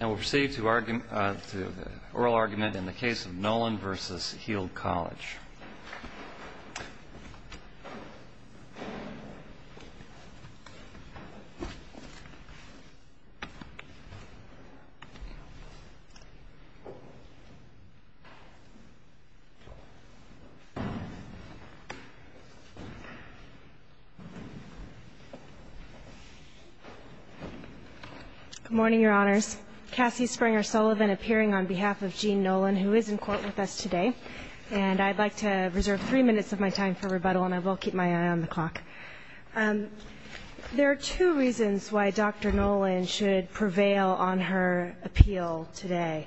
And we'll proceed to oral argument in the case of Nolan v. Heald College. Good morning, Your Honors. Cassie Springer Sullivan appearing on behalf of Gene Nolan who is in court with us today. And I'd like to reserve three minutes of my time for rebuttal, and I will keep my eye on the clock. There are two reasons why Dr. Nolan should prevail on her appeal today.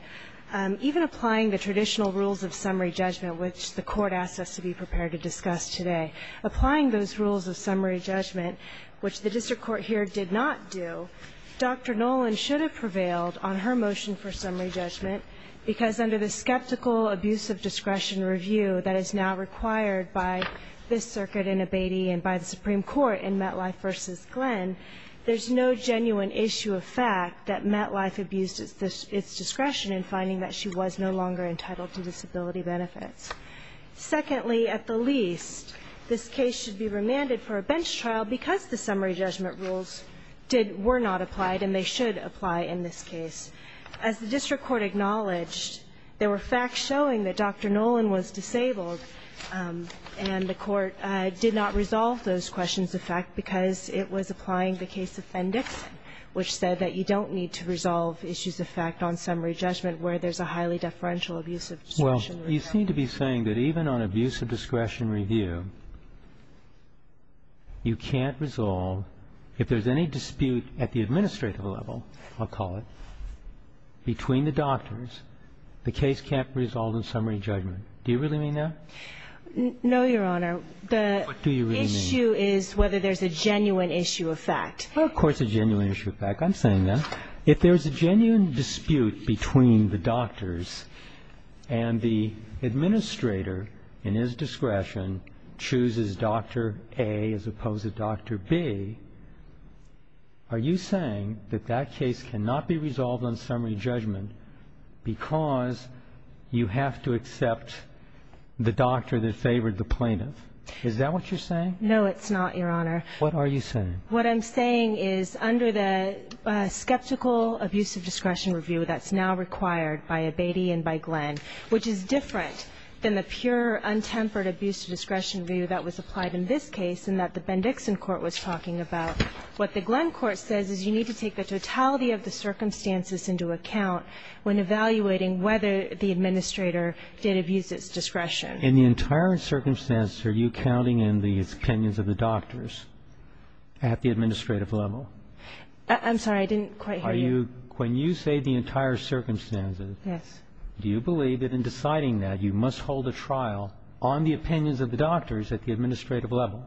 Even applying the traditional rules of summary judgment, which the Court asked us to be prepared to discuss today, applying those rules of summary judgment, which the district court here did not do, Dr. Nolan should have prevailed on her motion for summary judgment, because under the skeptical abuse of discretion review that is now required by this circuit in Abatey and by the Supreme Court in Metlife v. Glenn, there's no genuine issue of fact that Metlife abused its discretion in finding that she was no longer entitled to disability benefits. Secondly, at the least, this case should be remanded for a bench trial because the summary judgment rules were not applied, and they should apply in this case. As the district court acknowledged, there were facts showing that Dr. Nolan was disabled, and the court did not resolve those questions of fact because it was applying the case appendix, which said that you don't need to resolve issues of fact on summary judgment where there's a highly deferential abuse of discretion. Well, you seem to be saying that even on abuse of discretion review, you can't resolve, if there's any dispute at the administrative level, I'll call it, between the doctors, the case can't resolve on summary judgment. Do you really mean that? No, Your Honor. What do you really mean? The issue is whether there's a genuine issue of fact. Well, of course there's a genuine issue of fact. I'm saying that. If there's a genuine dispute between the doctors and the administrator in his discretion chooses Dr. A as opposed to Dr. B, are you saying that that case cannot be resolved on summary judgment because you have to accept the doctor that favored the plaintiff? Is that what you're saying? No, it's not, Your Honor. What are you saying? What I'm saying is under the skeptical abuse of discretion review that's now required by Abatey and by Glenn, which is different than the pure, untempered abuse of discretion review that was applied in this case and that the Bendixson court was talking about, what the Glenn court says is you need to take the totality of the circumstances into account when evaluating whether the administrator did abuse its discretion. In the entire circumstances, are you counting in the opinions of the doctors at the administrative level? I'm sorry. I didn't quite hear you. When you say the entire circumstances, do you believe that in deciding that you must hold a trial on the opinions of the doctors at the administrative level?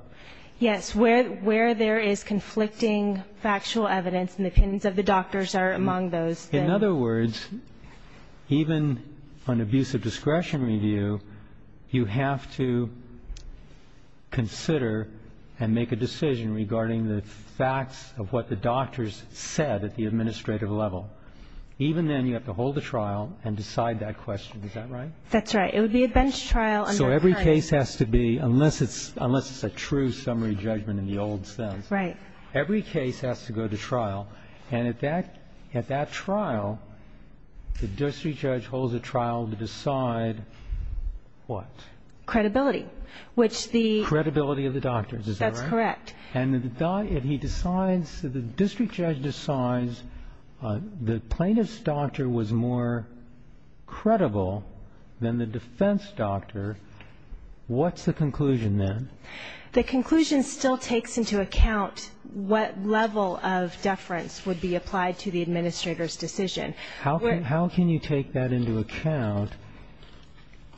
Yes. Where there is conflicting factual evidence and the opinions of the doctors are among those. In other words, even on abuse of discretion review, you have to consider and make a decision regarding the facts of what the doctors said at the administrative level. Even then, you have to hold a trial and decide that question. Is that right? That's right. It would be a bench trial. So every case has to be, unless it's a true summary judgment in the old sense. Right. Every case has to go to trial. And at that trial, the district judge holds a trial to decide what? Credibility. Credibility of the doctors. That's correct. And the district judge decides the plaintiff's doctor was more credible than the defense doctor. What's the conclusion then? The conclusion still takes into account what level of deference would be applied to the administrator's decision. How can you take that into account?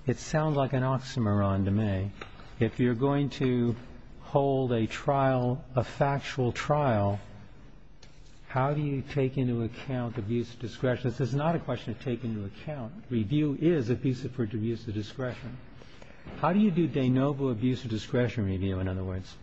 It sounds like an oxymoron to me. If you're going to hold a trial, a factual trial, how do you take into account abuse of discretion? This is not a question of taking into account. Review is abusive for abuse of discretion. How do you do de novo abuse of discretion review, in other words?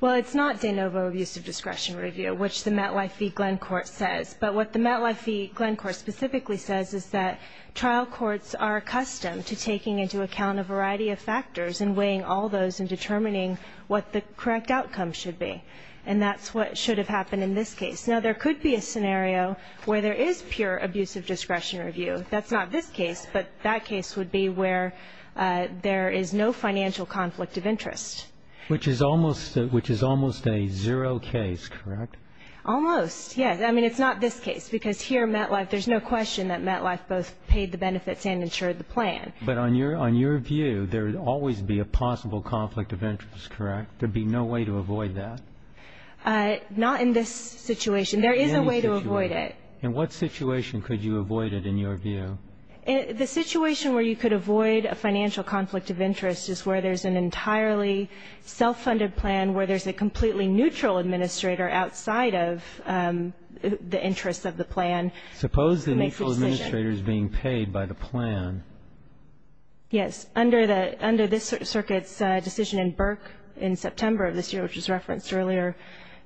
Well, it's not de novo abuse of discretion review, which the MetLife Glencourt says. But what the MetLife Glencourt specifically says is that trial courts are accustomed to taking into account a variety of factors and weighing all those and determining what the correct outcome should be. And that's what should have happened in this case. Now, there could be a scenario where there is pure abuse of discretion review. That's not this case, but that case would be where there is no financial conflict of interest. Which is almost a zero case, correct? Almost, yes. I mean, it's not this case, because here in MetLife there's no question that MetLife both paid the benefits and ensured the plan. But on your view, there would always be a possible conflict of interest, correct? There would be no way to avoid that? Not in this situation. There is a way to avoid it. In what situation could you avoid it in your view? The situation where you could avoid a financial conflict of interest is where there's an entirely self-funded plan, where there's a completely neutral administrator outside of the interests of the plan. Suppose the neutral administrator is being paid by the plan. Yes. Under this circuit's decision in Burke in September of this year, which was referenced earlier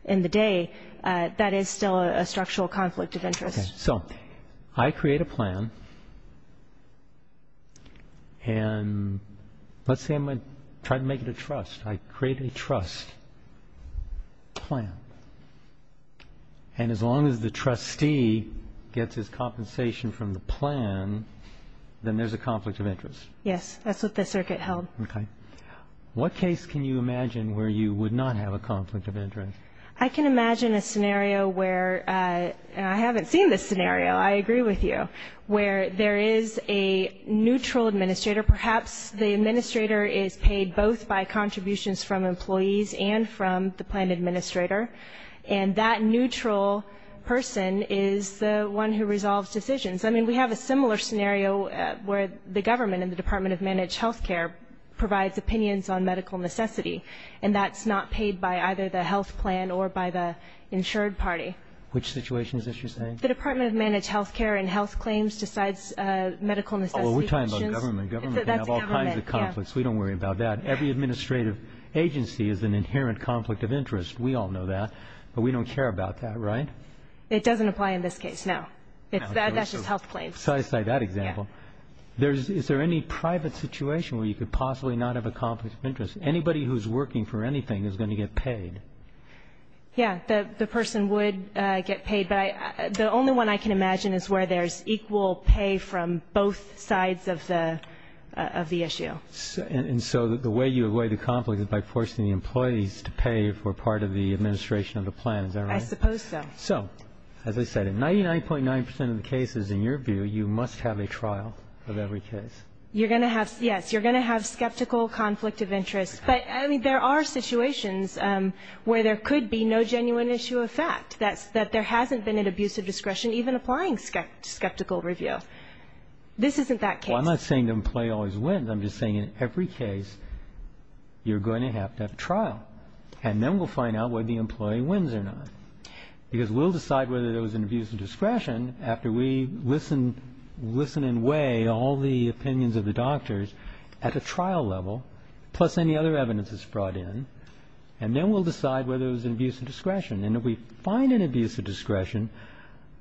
in the day, that is still a structural conflict of interest. So I create a plan, and let's say I'm going to try to make it a trust. I create a trust plan. And as long as the trustee gets his compensation from the plan, then there's a conflict of interest. Yes, that's what the circuit held. Okay. What case can you imagine where you would not have a conflict of interest? I can imagine a scenario where, and I haven't seen this scenario, I agree with you, where there is a neutral administrator. Perhaps the administrator is paid both by contributions from employees and from the plan administrator, and that neutral person is the one who resolves decisions. I mean, we have a similar scenario where the government and the Department of Managed Health Care provides opinions on medical necessity, and that's not paid by either the health plan or by the insured party. Which situations is she saying? The Department of Managed Health Care and Health Claims decides medical necessity decisions. Well, we're talking about government. Government can have all kinds of conflicts. We don't worry about that. Every administrative agency is an inherent conflict of interest. We all know that. But we don't care about that, right? It doesn't apply in this case, no. That's just health claims. So I cite that example. Is there any private situation where you could possibly not have a conflict of interest? Anybody who's working for anything is going to get paid. Yes, the person would get paid. But the only one I can imagine is where there's equal pay from both sides of the issue. And so the way you avoid the conflict is by forcing the employees to pay for part of the administration of the plan. Is that right? I suppose so. So, as I said, in 99.9% of the cases, in your view, you must have a trial of every case. Yes, you're going to have skeptical conflict of interest. But, I mean, there are situations where there could be no genuine issue of fact, that there hasn't been an abuse of discretion even applying skeptical review. This isn't that case. Well, I'm not saying the employee always wins. I'm just saying in every case you're going to have to have a trial. And then we'll find out whether the employee wins or not. Because we'll decide whether there was an abuse of discretion after we listen and weigh all the opinions of the doctors at a trial level, plus any other evidence that's brought in. And then we'll decide whether there was an abuse of discretion. And if we find an abuse of discretion,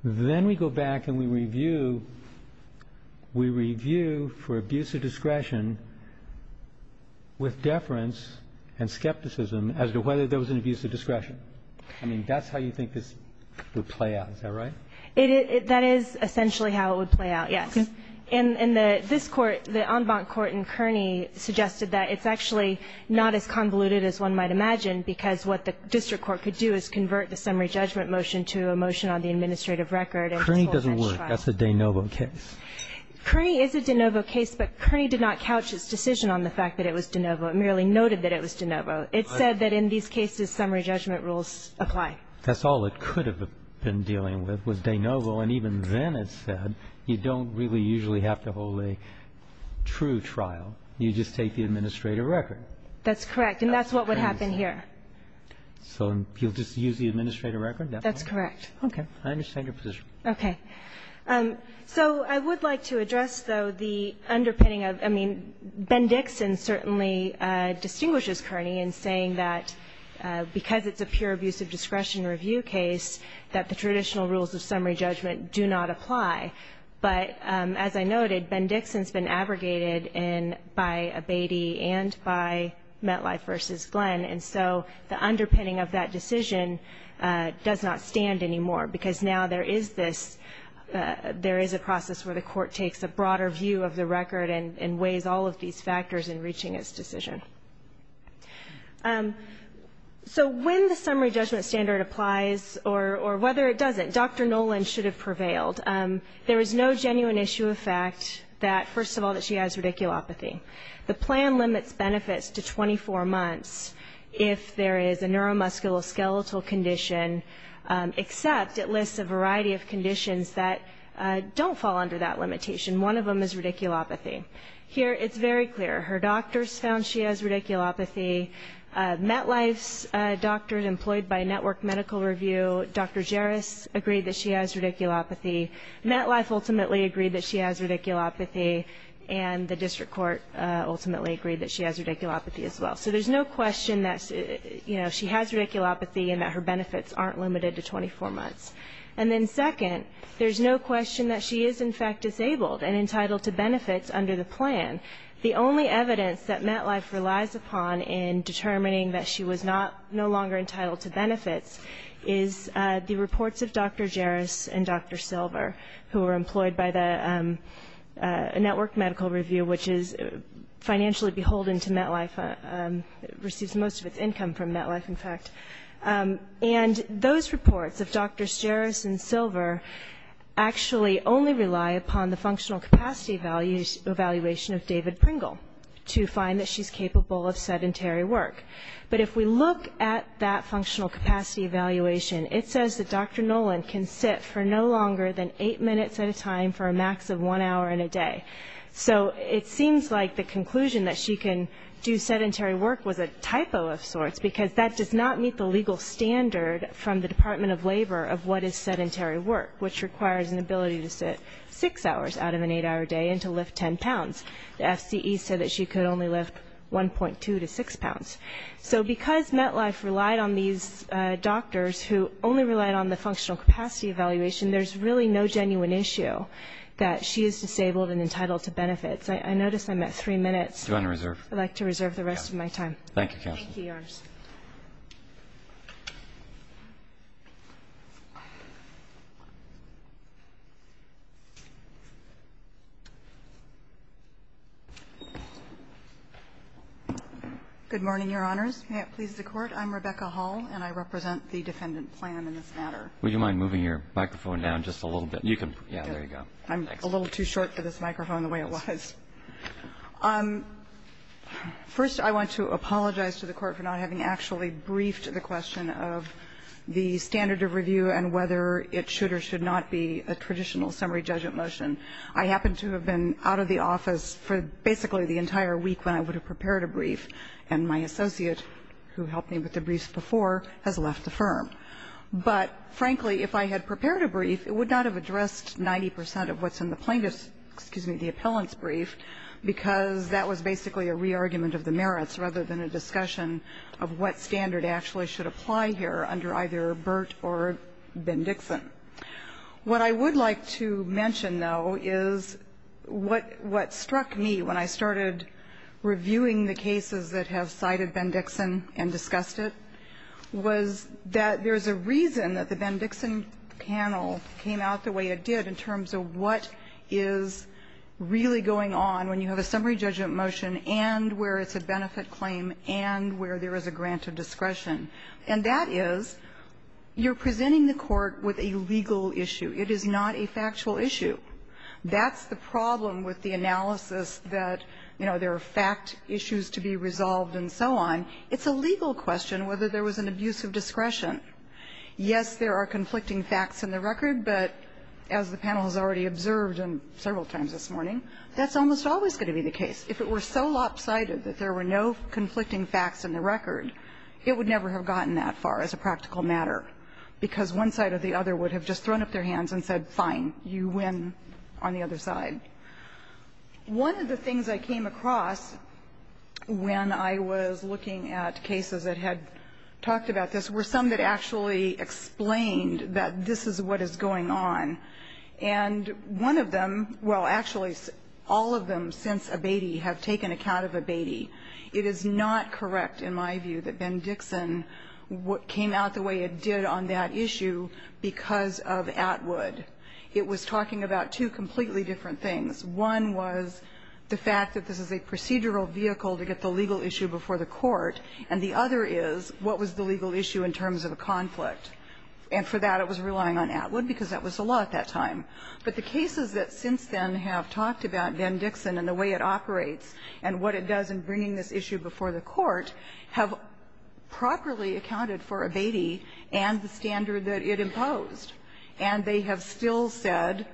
then we go back and we review. We review for abuse of discretion with deference and skepticism as to whether there was an abuse of discretion. I mean, that's how you think this would play out. Is that right? That is essentially how it would play out, yes. And this Court, the en banc Court in Kearney, suggested that it's actually not as convoluted as one might imagine because what the district court could do is convert the summary judgment motion to a motion on the administrative record. Kearney doesn't work. That's a de novo case. Kearney is a de novo case, but Kearney did not couch its decision on the fact that it was de novo. It merely noted that it was de novo. It said that in these cases summary judgment rules apply. That's all it could have been dealing with was de novo. And even then it said you don't really usually have to hold a true trial. You just take the administrative record. That's correct. And that's what would happen here. So you'll just use the administrative record? That's correct. Okay. I understand your position. Okay. So I would like to address, though, the underpinning of, I mean, Ben Dixon certainly distinguishes Kearney in saying that because it's a pure abuse of discretion review case that the traditional rules of summary judgment do not apply. But as I noted, Ben Dixon's been abrogated by Abatey and by Metlife v. Glenn, and so the underpinning of that decision does not stand anymore because now there is this, there is a process where the court takes a broader view of the record and weighs all of these factors in reaching its decision. So when the summary judgment standard applies, or whether it doesn't, Dr. Noland should have prevailed. There is no genuine issue of fact that, first of all, that she has radiculopathy. The plan limits benefits to 24 months if there is a neuromusculoskeletal condition, except it lists a variety of conditions that don't fall under that limitation. One of them is radiculopathy. Here it's very clear. Her doctors found she has radiculopathy. Metlife's doctor, employed by Network Medical Review, Dr. Jaris, agreed that she has radiculopathy. Metlife ultimately agreed that she has radiculopathy, and the district court ultimately agreed that she has radiculopathy as well. So there's no question that, you know, she has radiculopathy and that her benefits aren't limited to 24 months. And then second, there's no question that she is, in fact, disabled and entitled to benefits under the plan. The only evidence that Metlife relies upon in determining that she was not, no longer entitled to benefits is the reports of Dr. Jaris and Dr. Silver, who were employed by the Network Medical Review, which is financially beholden to Metlife, receives most of its income from Metlife, in fact. And those reports of Drs. Jaris and Silver actually only rely upon the functional capacity evaluation of David Pringle to find that she's capable of sedentary work. But if we look at that functional capacity evaluation, it says that Dr. Nolan can sit for no longer than eight minutes at a time for a max of one hour in a day. So it seems like the conclusion that she can do sedentary work was a typo of sorts, because that does not meet the legal standard from the Department of Labor of what is sedentary work, which requires an ability to sit six hours out of an eight-hour day and to lift 10 pounds. The FCE said that she could only lift 1.2 to 6 pounds. So because Metlife relied on these doctors who only relied on the functional capacity evaluation, there's really no genuine issue that she is disabled and entitled to benefits. I notice I'm at three minutes. I'd like to reserve the rest of my time. Thank you, counsel. Thank you, Your Honor. Good morning, Your Honors. May it please the Court. I'm Rebecca Hall, and I represent the Defendant Plan in this matter. Would you mind moving your microphone down just a little bit? You can. Yeah, there you go. I'm a little too short for this microphone the way it was. First, I want to apologize to the Court for not having actually briefed the question of the standard of review and whether it should or should not be a traditional summary judgment motion. I happen to have been out of the office for basically the entire week when I would have prepared a brief, and my associate, who helped me with the briefs before, has left the firm. But, frankly, if I had prepared a brief, it would not have addressed 90 percent of what's in the plaintiff's, excuse me, the appellant's brief, because that was basically a re-argument of the merits rather than a discussion of what standard actually should apply here under either Burt or Ben Dixon. What I would like to mention, though, is what struck me when I started reviewing the cases that have cited Ben Dixon and discussed it was that there's a reason that the Ben Dixon panel came out the way it did in terms of what is really going on when you have a summary judgment motion and where it's a benefit claim and where there is a grant of discretion, and that is you're presenting the court with a legal issue. It is not a factual issue. That's the problem with the analysis that, you know, there are fact issues to be resolved and so on. It's a legal question whether there was an abuse of discretion. Yes, there are conflicting facts in the record, but as the panel has already observed several times this morning, that's almost always going to be the case. If it were so lopsided that there were no conflicting facts in the record, it would never have gotten that far as a practical matter, because one side or the other would have just thrown up their hands and said, fine, you win on the other side. One of the things I came across when I was looking at cases that had talked about this were some that actually explained that this is what is going on. And one of them, well, actually all of them since Abatey have taken account of Abatey. It is not correct in my view that Ben Dixon came out the way it did on that issue because of Atwood. It was talking about two completely different things. One was the fact that this is a procedural vehicle to get the legal issue before the court, and the other is what was the legal issue in terms of a conflict. And for that it was relying on Atwood because that was the law at that time. But the cases that since then have talked about Ben Dixon and the way it operates and what it does in bringing this issue before the court have properly accounted for Abatey and the standard that it imposed. And they have still said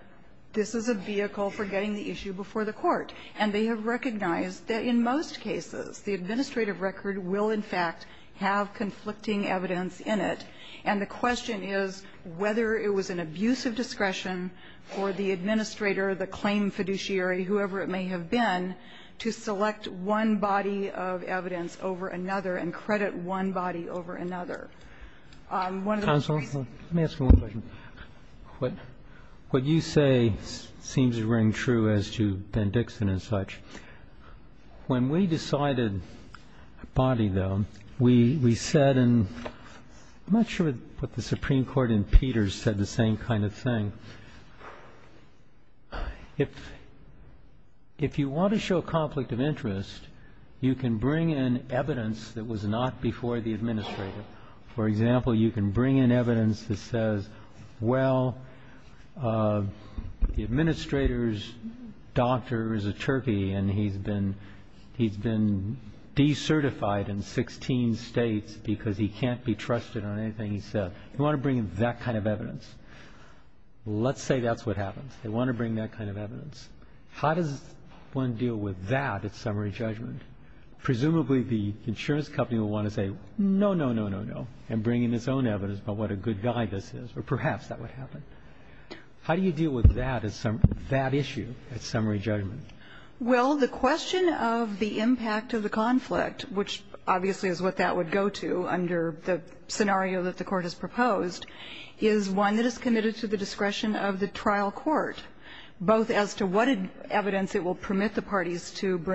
this is a vehicle for getting the issue before the court. And they have recognized that in most cases the administrative record will, in fact, have conflicting evidence in it. And the question is whether it was an abuse of discretion for the administrator, the claim fiduciary, whoever it may have been, to select one body of evidence over another and credit one body over another. One of the reasons. Let me ask you one question. What you say seems to ring true as to Ben Dixon and such. When we decided Abatey, though, we said and I'm not sure what the Supreme Court and Peters said the same kind of thing. If you want to show conflict of interest, you can bring in evidence that was not before the administrator. For example, you can bring in evidence that says, well, the administrator's doctor is a turkey and he's been de-certified in 16 States because he can't be trusted on anything he says. You want to bring in that kind of evidence. Let's say that's what happens. They want to bring that kind of evidence. How does one deal with that at summary judgment? Presumably the insurance company will want to say, no, no, no, no, no, and bring in its own evidence about what a good guy this is, or perhaps that would happen. How do you deal with that issue at summary judgment? Well, the question of the impact of the conflict, which obviously is what that would go to under the scenario that the Court has proposed, is one that is committed to the discretion of the trial court, both as to what evidence it will permit the court to gather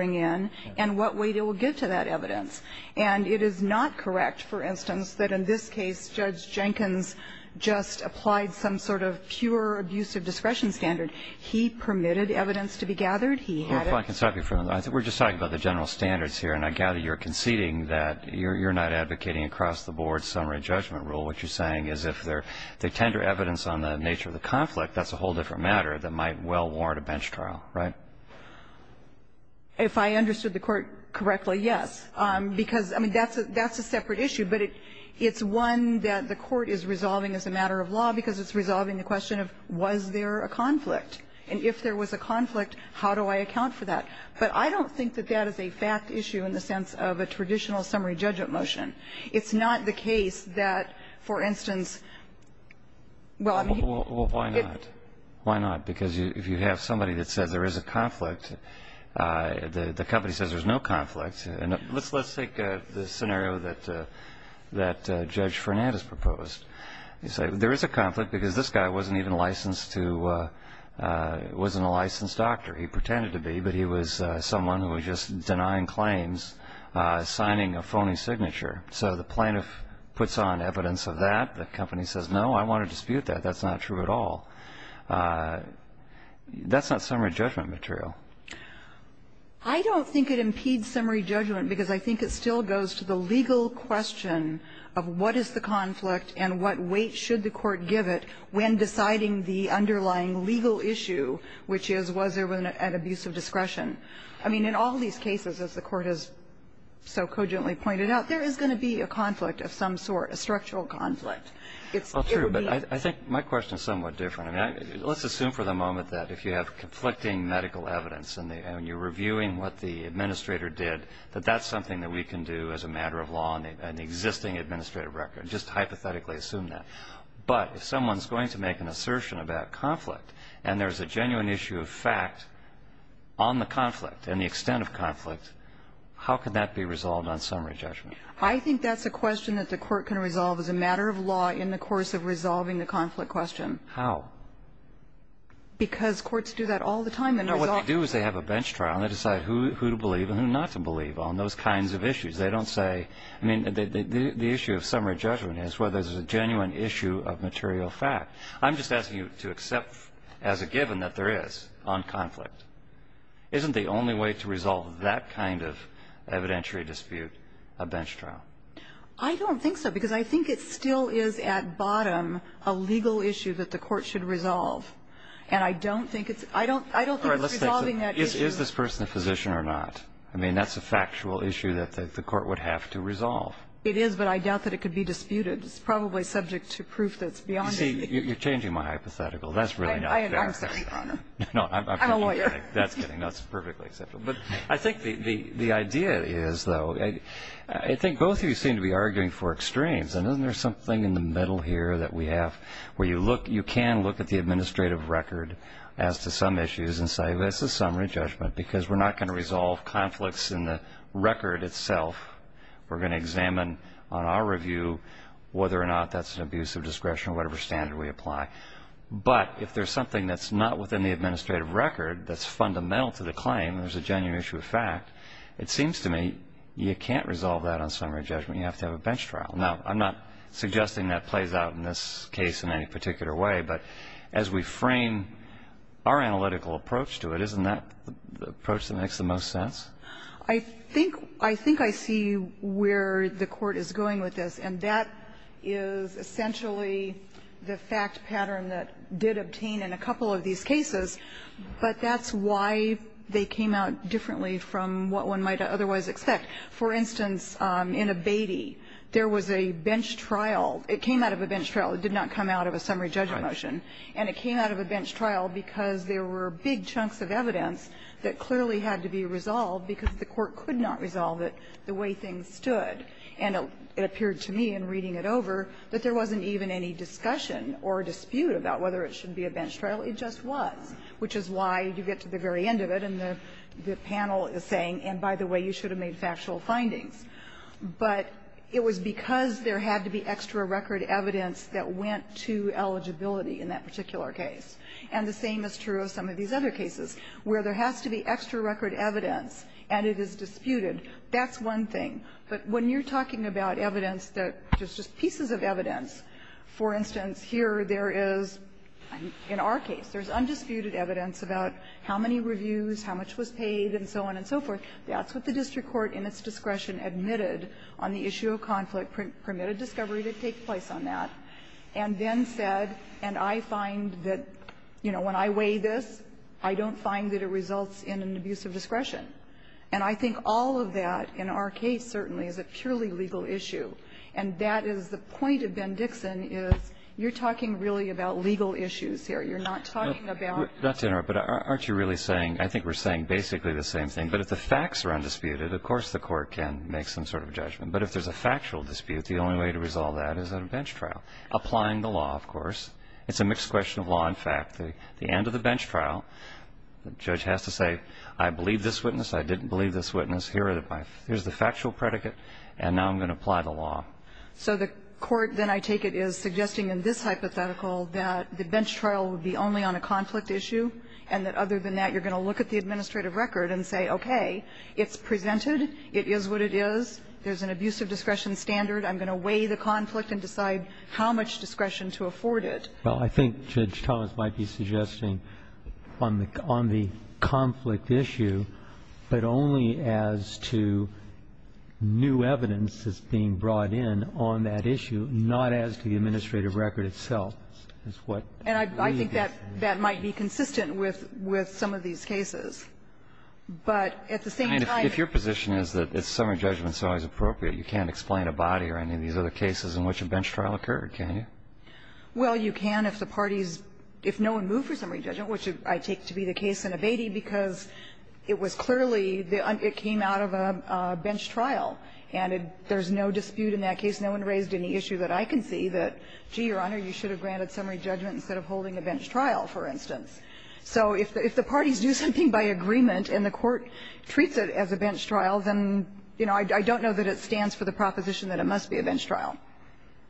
and what weight it will give to that evidence. And it is not correct, for instance, that in this case Judge Jenkins just applied some sort of pure abuse of discretion standard. He permitted evidence to be gathered. He had it. Well, if I can stop you for a moment. We're just talking about the general standards here, and I gather you're conceding that you're not advocating across the board summary judgment rule. What you're saying is if there's tender evidence on the nature of the conflict, that's a whole different matter that might well warrant a bench trial, right? If I understood the Court correctly, yes. Because, I mean, that's a separate issue. But it's one that the Court is resolving as a matter of law because it's resolving the question of was there a conflict. And if there was a conflict, how do I account for that? But I don't think that that is a fact issue in the sense of a traditional summary judgment motion. Why not? Because if you have somebody that says there is a conflict, the company says there's no conflict. Let's take the scenario that Judge Fernandez proposed. You say there is a conflict because this guy wasn't even licensed to be a licensed doctor. He pretended to be, but he was someone who was just denying claims, signing a phony signature. So the plaintiff puts on evidence of that. The company says, no, I want to dispute that. That's not true at all. That's not summary judgment material. I don't think it impedes summary judgment because I think it still goes to the legal question of what is the conflict and what weight should the Court give it when deciding the underlying legal issue, which is was there an abuse of discretion. I mean, in all these cases, as the Court has so cogently pointed out, there is going to be a conflict of some sort, a structural conflict. Well, true, but I think my question is somewhat different. I mean, let's assume for the moment that if you have conflicting medical evidence and you're reviewing what the administrator did, that that's something that we can do as a matter of law in an existing administrative record. Just hypothetically assume that. But if someone's going to make an assertion about conflict and there's a genuine issue of fact on the conflict and the extent of conflict, how can that be resolved on summary judgment? I think that's a question that the Court can resolve as a matter of law in the course of resolving the conflict question. How? Because courts do that all the time. No, what they do is they have a bench trial and they decide who to believe and who not to believe on those kinds of issues. They don't say the issue of summary judgment is whether there's a genuine issue of material fact. I'm just asking you to accept as a given that there is on conflict. Isn't the only way to resolve that kind of evidentiary dispute a bench trial? I don't think so, because I think it still is at bottom a legal issue that the Court should resolve. And I don't think it's resolving that issue. Is this person a physician or not? I mean, that's a factual issue that the Court would have to resolve. It is, but I doubt that it could be disputed. It's probably subject to proof that's beyond me. You see, you're changing my hypothetical. That's really not fair. I'm sorry, Your Honor. No, I'm kidding. I'm a lawyer. That's kidding. That's perfectly acceptable. But I think the idea is, though, I think both of you seem to be arguing for extremes. And isn't there something in the middle here that we have where you can look at the administrative record as to some issues and say, well, this is summary judgment, because we're not going to resolve conflicts in the record itself. We're going to examine on our review whether or not that's an abuse of discretion or whatever standard we apply. But if there's something that's not within the administrative record that's fundamental to the claim and there's a genuine issue of fact, it seems to me you can't resolve that on summary judgment. You have to have a bench trial. Now, I'm not suggesting that plays out in this case in any particular way, but as we frame our analytical approach to it, isn't that the approach that makes the most sense? I think — I think I see where the Court is going with this. And that is essentially the fact pattern that did obtain in a couple of these cases. But that's why they came out differently from what one might otherwise expect. For instance, in Abatey, there was a bench trial. It came out of a bench trial. It did not come out of a summary judgment motion. And it came out of a bench trial because there were big chunks of evidence that clearly had to be resolved because the Court could not resolve it the way things stood. And it appeared to me in reading it over that there wasn't even any discussion or dispute about whether it should be a bench trial. It just was, which is why you get to the very end of it. And the panel is saying, and by the way, you should have made factual findings. But it was because there had to be extra record evidence that went to eligibility in that particular case. And the same is true of some of these other cases where there has to be extra record evidence and it is disputed. That's one thing. But when you're talking about evidence that is just pieces of evidence, for instance, here there is, in our case, there's undisputed evidence about how many reviews, how much was paid, and so on and so forth. That's what the district court in its discretion admitted on the issue of conflict permitted discovery to take place on that, and then said, and I find that, you know, when I weigh this, I don't find that it results in an abuse of discretion. And I think all of that, in our case, certainly, is a purely legal issue. And that is the point of Ben Dixon is you're talking really about legal issues here. You're not talking about the facts. Breyer. But aren't you really saying, I think we're saying basically the same thing. But if the facts are undisputed, of course the court can make some sort of judgment. But if there's a factual dispute, the only way to resolve that is at a bench trial. Applying the law, of course. It's a mixed question of law and fact. The end of the bench trial, the judge has to say, I believe this witness. I didn't believe this witness. Here's the factual predicate. And now I'm going to apply the law. So the court, then I take it, is suggesting in this hypothetical that the bench trial would be only on a conflict issue, and that other than that, you're going to look at the administrative record and say, okay, it's presented, it is what it is, there's an abuse of discretion standard, I'm going to weigh the conflict and decide how much discretion to afford it. Well, I think Judge Thomas might be suggesting on the conflict issue, but only as to new evidence that's being brought in on that issue, not as to the administrative record itself, is what we believe. And I think that might be consistent with some of these cases. But at the same time, if your position is that summary judgment is always appropriate, you can't explain a body or any of these other cases in which a bench trial occurred, can you? Well, you can if the parties – if no one moved for summary judgment, which I take to be the case in Abatey, because it was clearly the – it came out of a bench trial, and there's no dispute in that case. No one raised any issue that I can see that, gee, Your Honor, you should have granted summary judgment instead of holding a bench trial, for instance. So if the parties do something by agreement and the court treats it as a bench trial, then, you know, I don't know that it stands for the proposition that it must be a bench trial.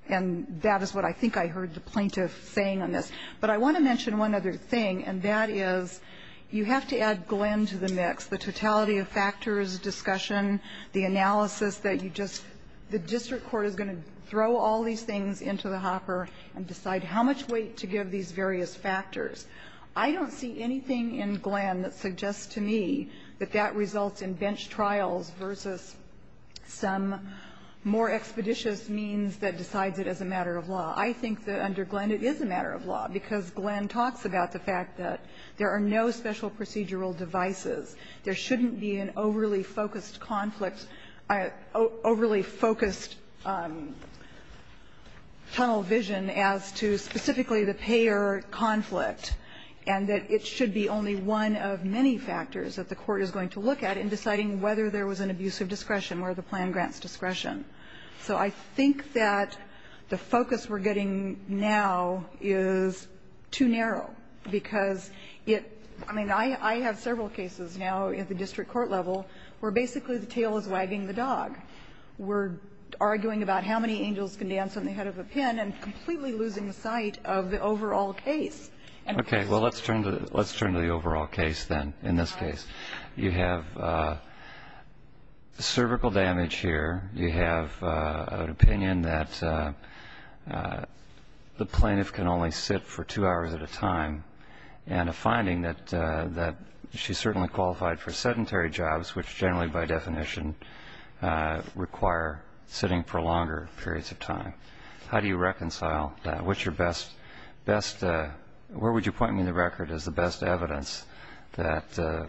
And that is what I think I heard the plaintiff saying on this. But I want to mention one other thing, and that is you have to add Glenn to the mix, the totality of factors, discussion, the analysis that you just – the district court is going to throw all these things into the hopper and decide how much weight to give these various factors. I don't see anything in Glenn that suggests to me that that results in bench trials versus some more expeditious means that decides it as a matter of law. I think that under Glenn it is a matter of law, because Glenn talks about the fact that there are no special procedural devices. There shouldn't be an overly focused conflict, overly focused tunnel vision as to specifically the payer conflict, and that it should be only one of many factors that the court is going to look at in deciding whether there was an abusive discretion or the plan grants discretion. So I think that the focus we're getting now is too narrow, because it – I mean, I have several cases now at the district court level where basically the tail is wagging the dog. We're arguing about how many angels can dance on the head of a pin and completely losing sight of the overall case. Okay, well, let's turn to the overall case then, in this case. You have cervical damage here. You have an opinion that the plaintiff can only sit for two hours at a time, and a finding that she's certainly qualified for sedentary jobs, which generally by definition require sitting for longer periods of time. How do you reconcile that? What's your best – best – where would you point me in the record as the best evidence that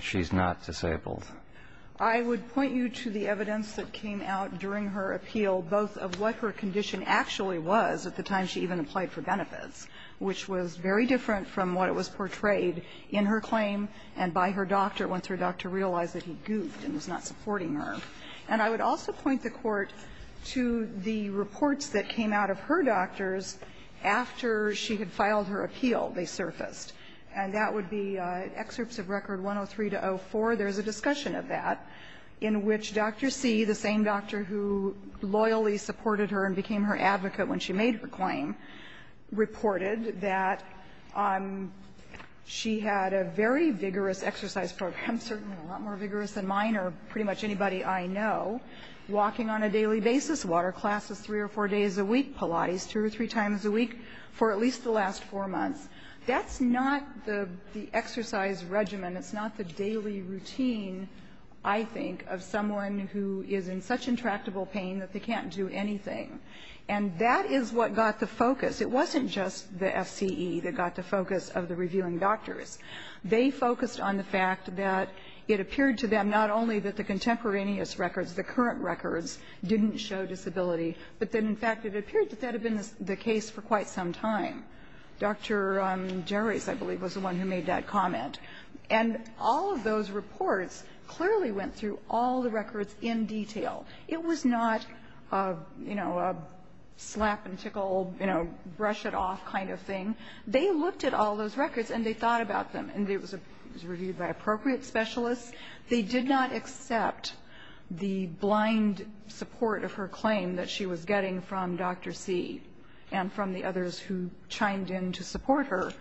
she's not disabled? I would point you to the evidence that came out during her appeal, both of what her condition actually was at the time she even applied for benefits, which was very different from what was portrayed in her claim and by her doctor once her doctor realized that he goofed and was not supporting her. And I would also point the Court to the reports that came out of her doctors after she had filed her appeal, they surfaced. And that would be excerpts of Record 103-04. There's a discussion of that in which Dr. C., the same doctor who loyally supported her and became her advocate when she made her claim, reported that she had a very vigorous exercise program, certainly a lot more vigorous than mine or pretty much anybody I know, walking on a daily basis, water classes three or four days a week, Pilates two or three times a week for at least the last four months. That's not the exercise regimen. It's not the daily routine, I think, of someone who is in such intractable pain that they can't do anything. And that is what got the focus. It wasn't just the FCE that got the focus of the reviewing doctors. They focused on the fact that it appeared to them not only that the contemporaneous records, the current records, didn't show disability, but that in fact it appeared that that had been the case for quite some time. Dr. Gerrace, I believe, was the one who made that comment. And all of those reports clearly went through all the records in detail. It was not, you know, a slap and tickle, you know, brush it off kind of thing. They looked at all those records and they thought about them. And it was reviewed by appropriate specialists. They did not accept the blind support of her claim that she was getting from Dr. C and from the others who chimed in to support her.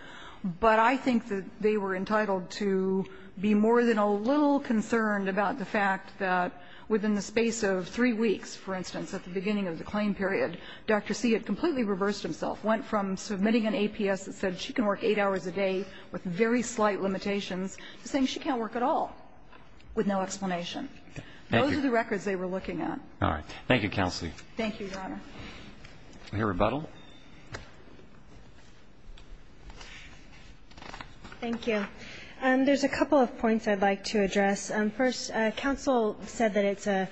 But I think that they were entitled to be more than a little concerned about the fact that within the space of three weeks, for instance, at the beginning of the claim period, Dr. C had completely reversed himself. Went from submitting an APS that said she can work eight hours a day with very slight limitations to saying she can't work at all with no explanation. Those are the records they were looking at. Thank you, Counselee. Thank you, Your Honor. Any rebuttal? Thank you. There's a couple of points I'd like to address. First, counsel said that it's a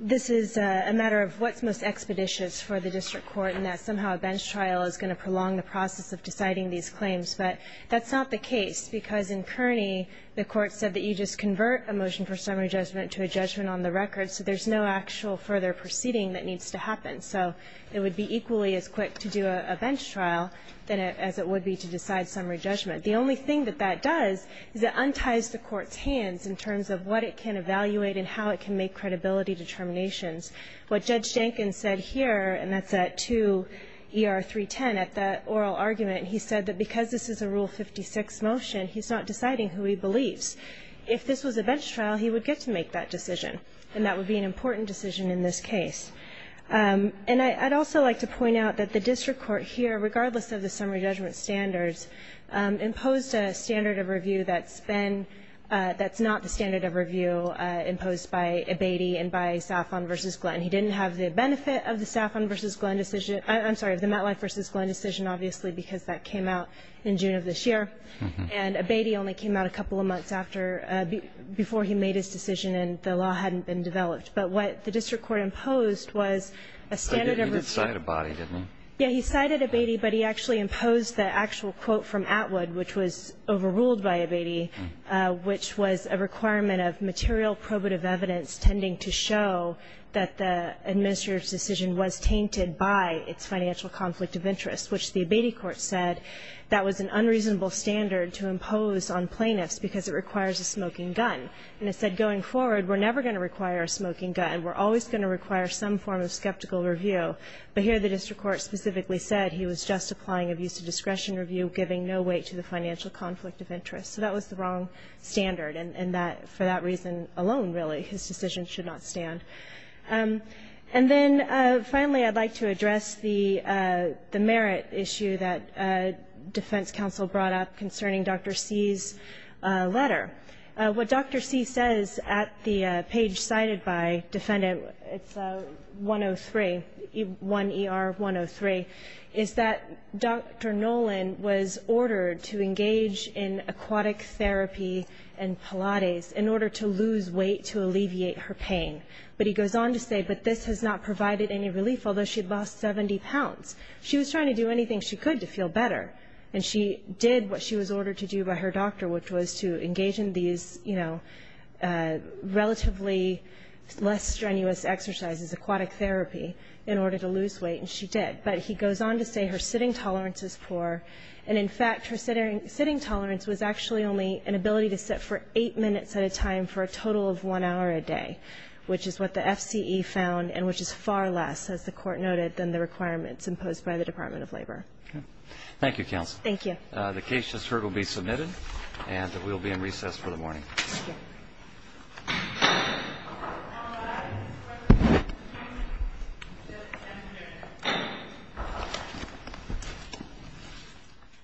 this is a matter of what's most expeditious for the district court and that somehow a bench trial is going to prolong the process of deciding these claims. But that's not the case because in Kearney, the court said that you just convert a motion for summary judgment to a judgment on the record. So there's no actual further proceeding that needs to happen. So it would be equally as quick to do a bench trial as it would be to decide summary judgment. The only thing that that does is it unties the court's hands in terms of what it can evaluate and how it can make credibility determinations. What Judge Jenkins said here, and that's at 2 ER 310 at the oral argument, he said that because this is a Rule 56 motion, he's not deciding who he believes. If this was a bench trial, he would get to make that decision and that would be an important decision in this case. And I'd also like to point out that the district court here, regardless of the summary judgment standards, imposed a standard of review that's been that's not the standard of review imposed by Abatey and by Saffron v. Glenn. He didn't have the benefit of the Saffron v. Glenn decision, I'm sorry, of the Matlock v. Glenn decision, obviously, because that came out in June of this year. And Abatey only came out a couple of months after, before he made his decision and the law hadn't been developed. But what the district court imposed was a standard of review. He did cite Abatey, didn't he? Yeah, he cited Abatey, but he actually imposed the actual quote from Atwood, which was overruled by Abatey, which was a requirement of material probative evidence tending to show that the administrator's decision was tainted by its financial conflict of interest, which the Abatey court said that was an unreasonable standard to impose on plaintiffs because it requires a smoking gun. And it said going forward, we're never going to require a smoking gun. We're always going to require some form of skeptical review. But here the district court specifically said he was just applying abuse of discretion review giving no weight to the financial conflict of interest. So that was the wrong standard. And that, for that reason alone, really, his decision should not stand. And then, finally, I'd like to address the merit issue that defense counsel brought up concerning Dr. C's letter. What Dr. C says at the page cited by defendant, it's 103, 1ER 103, is that Dr. Nolan was ordered to engage in aquatic therapy and Pilates in order to lose weight to alleviate her pain. But he goes on to say, but this has not provided any relief, although she'd lost 70 pounds. She was trying to do anything she could to feel better. And she did what she was ordered to do by her doctor, which was to engage in these relatively less strenuous exercises, aquatic therapy, in order to lose weight. And she did. But he goes on to say her sitting tolerance is poor. And in fact, her sitting tolerance was actually only an ability to sit for eight minutes at a time for a total of one hour a day. Which is what the FCE found, and which is far less, as the court noted, than the requirements imposed by the Department of Labor. Thank you, Counsel. Thank you. The case just heard will be submitted, and we'll be in recess for the morning. Thank you.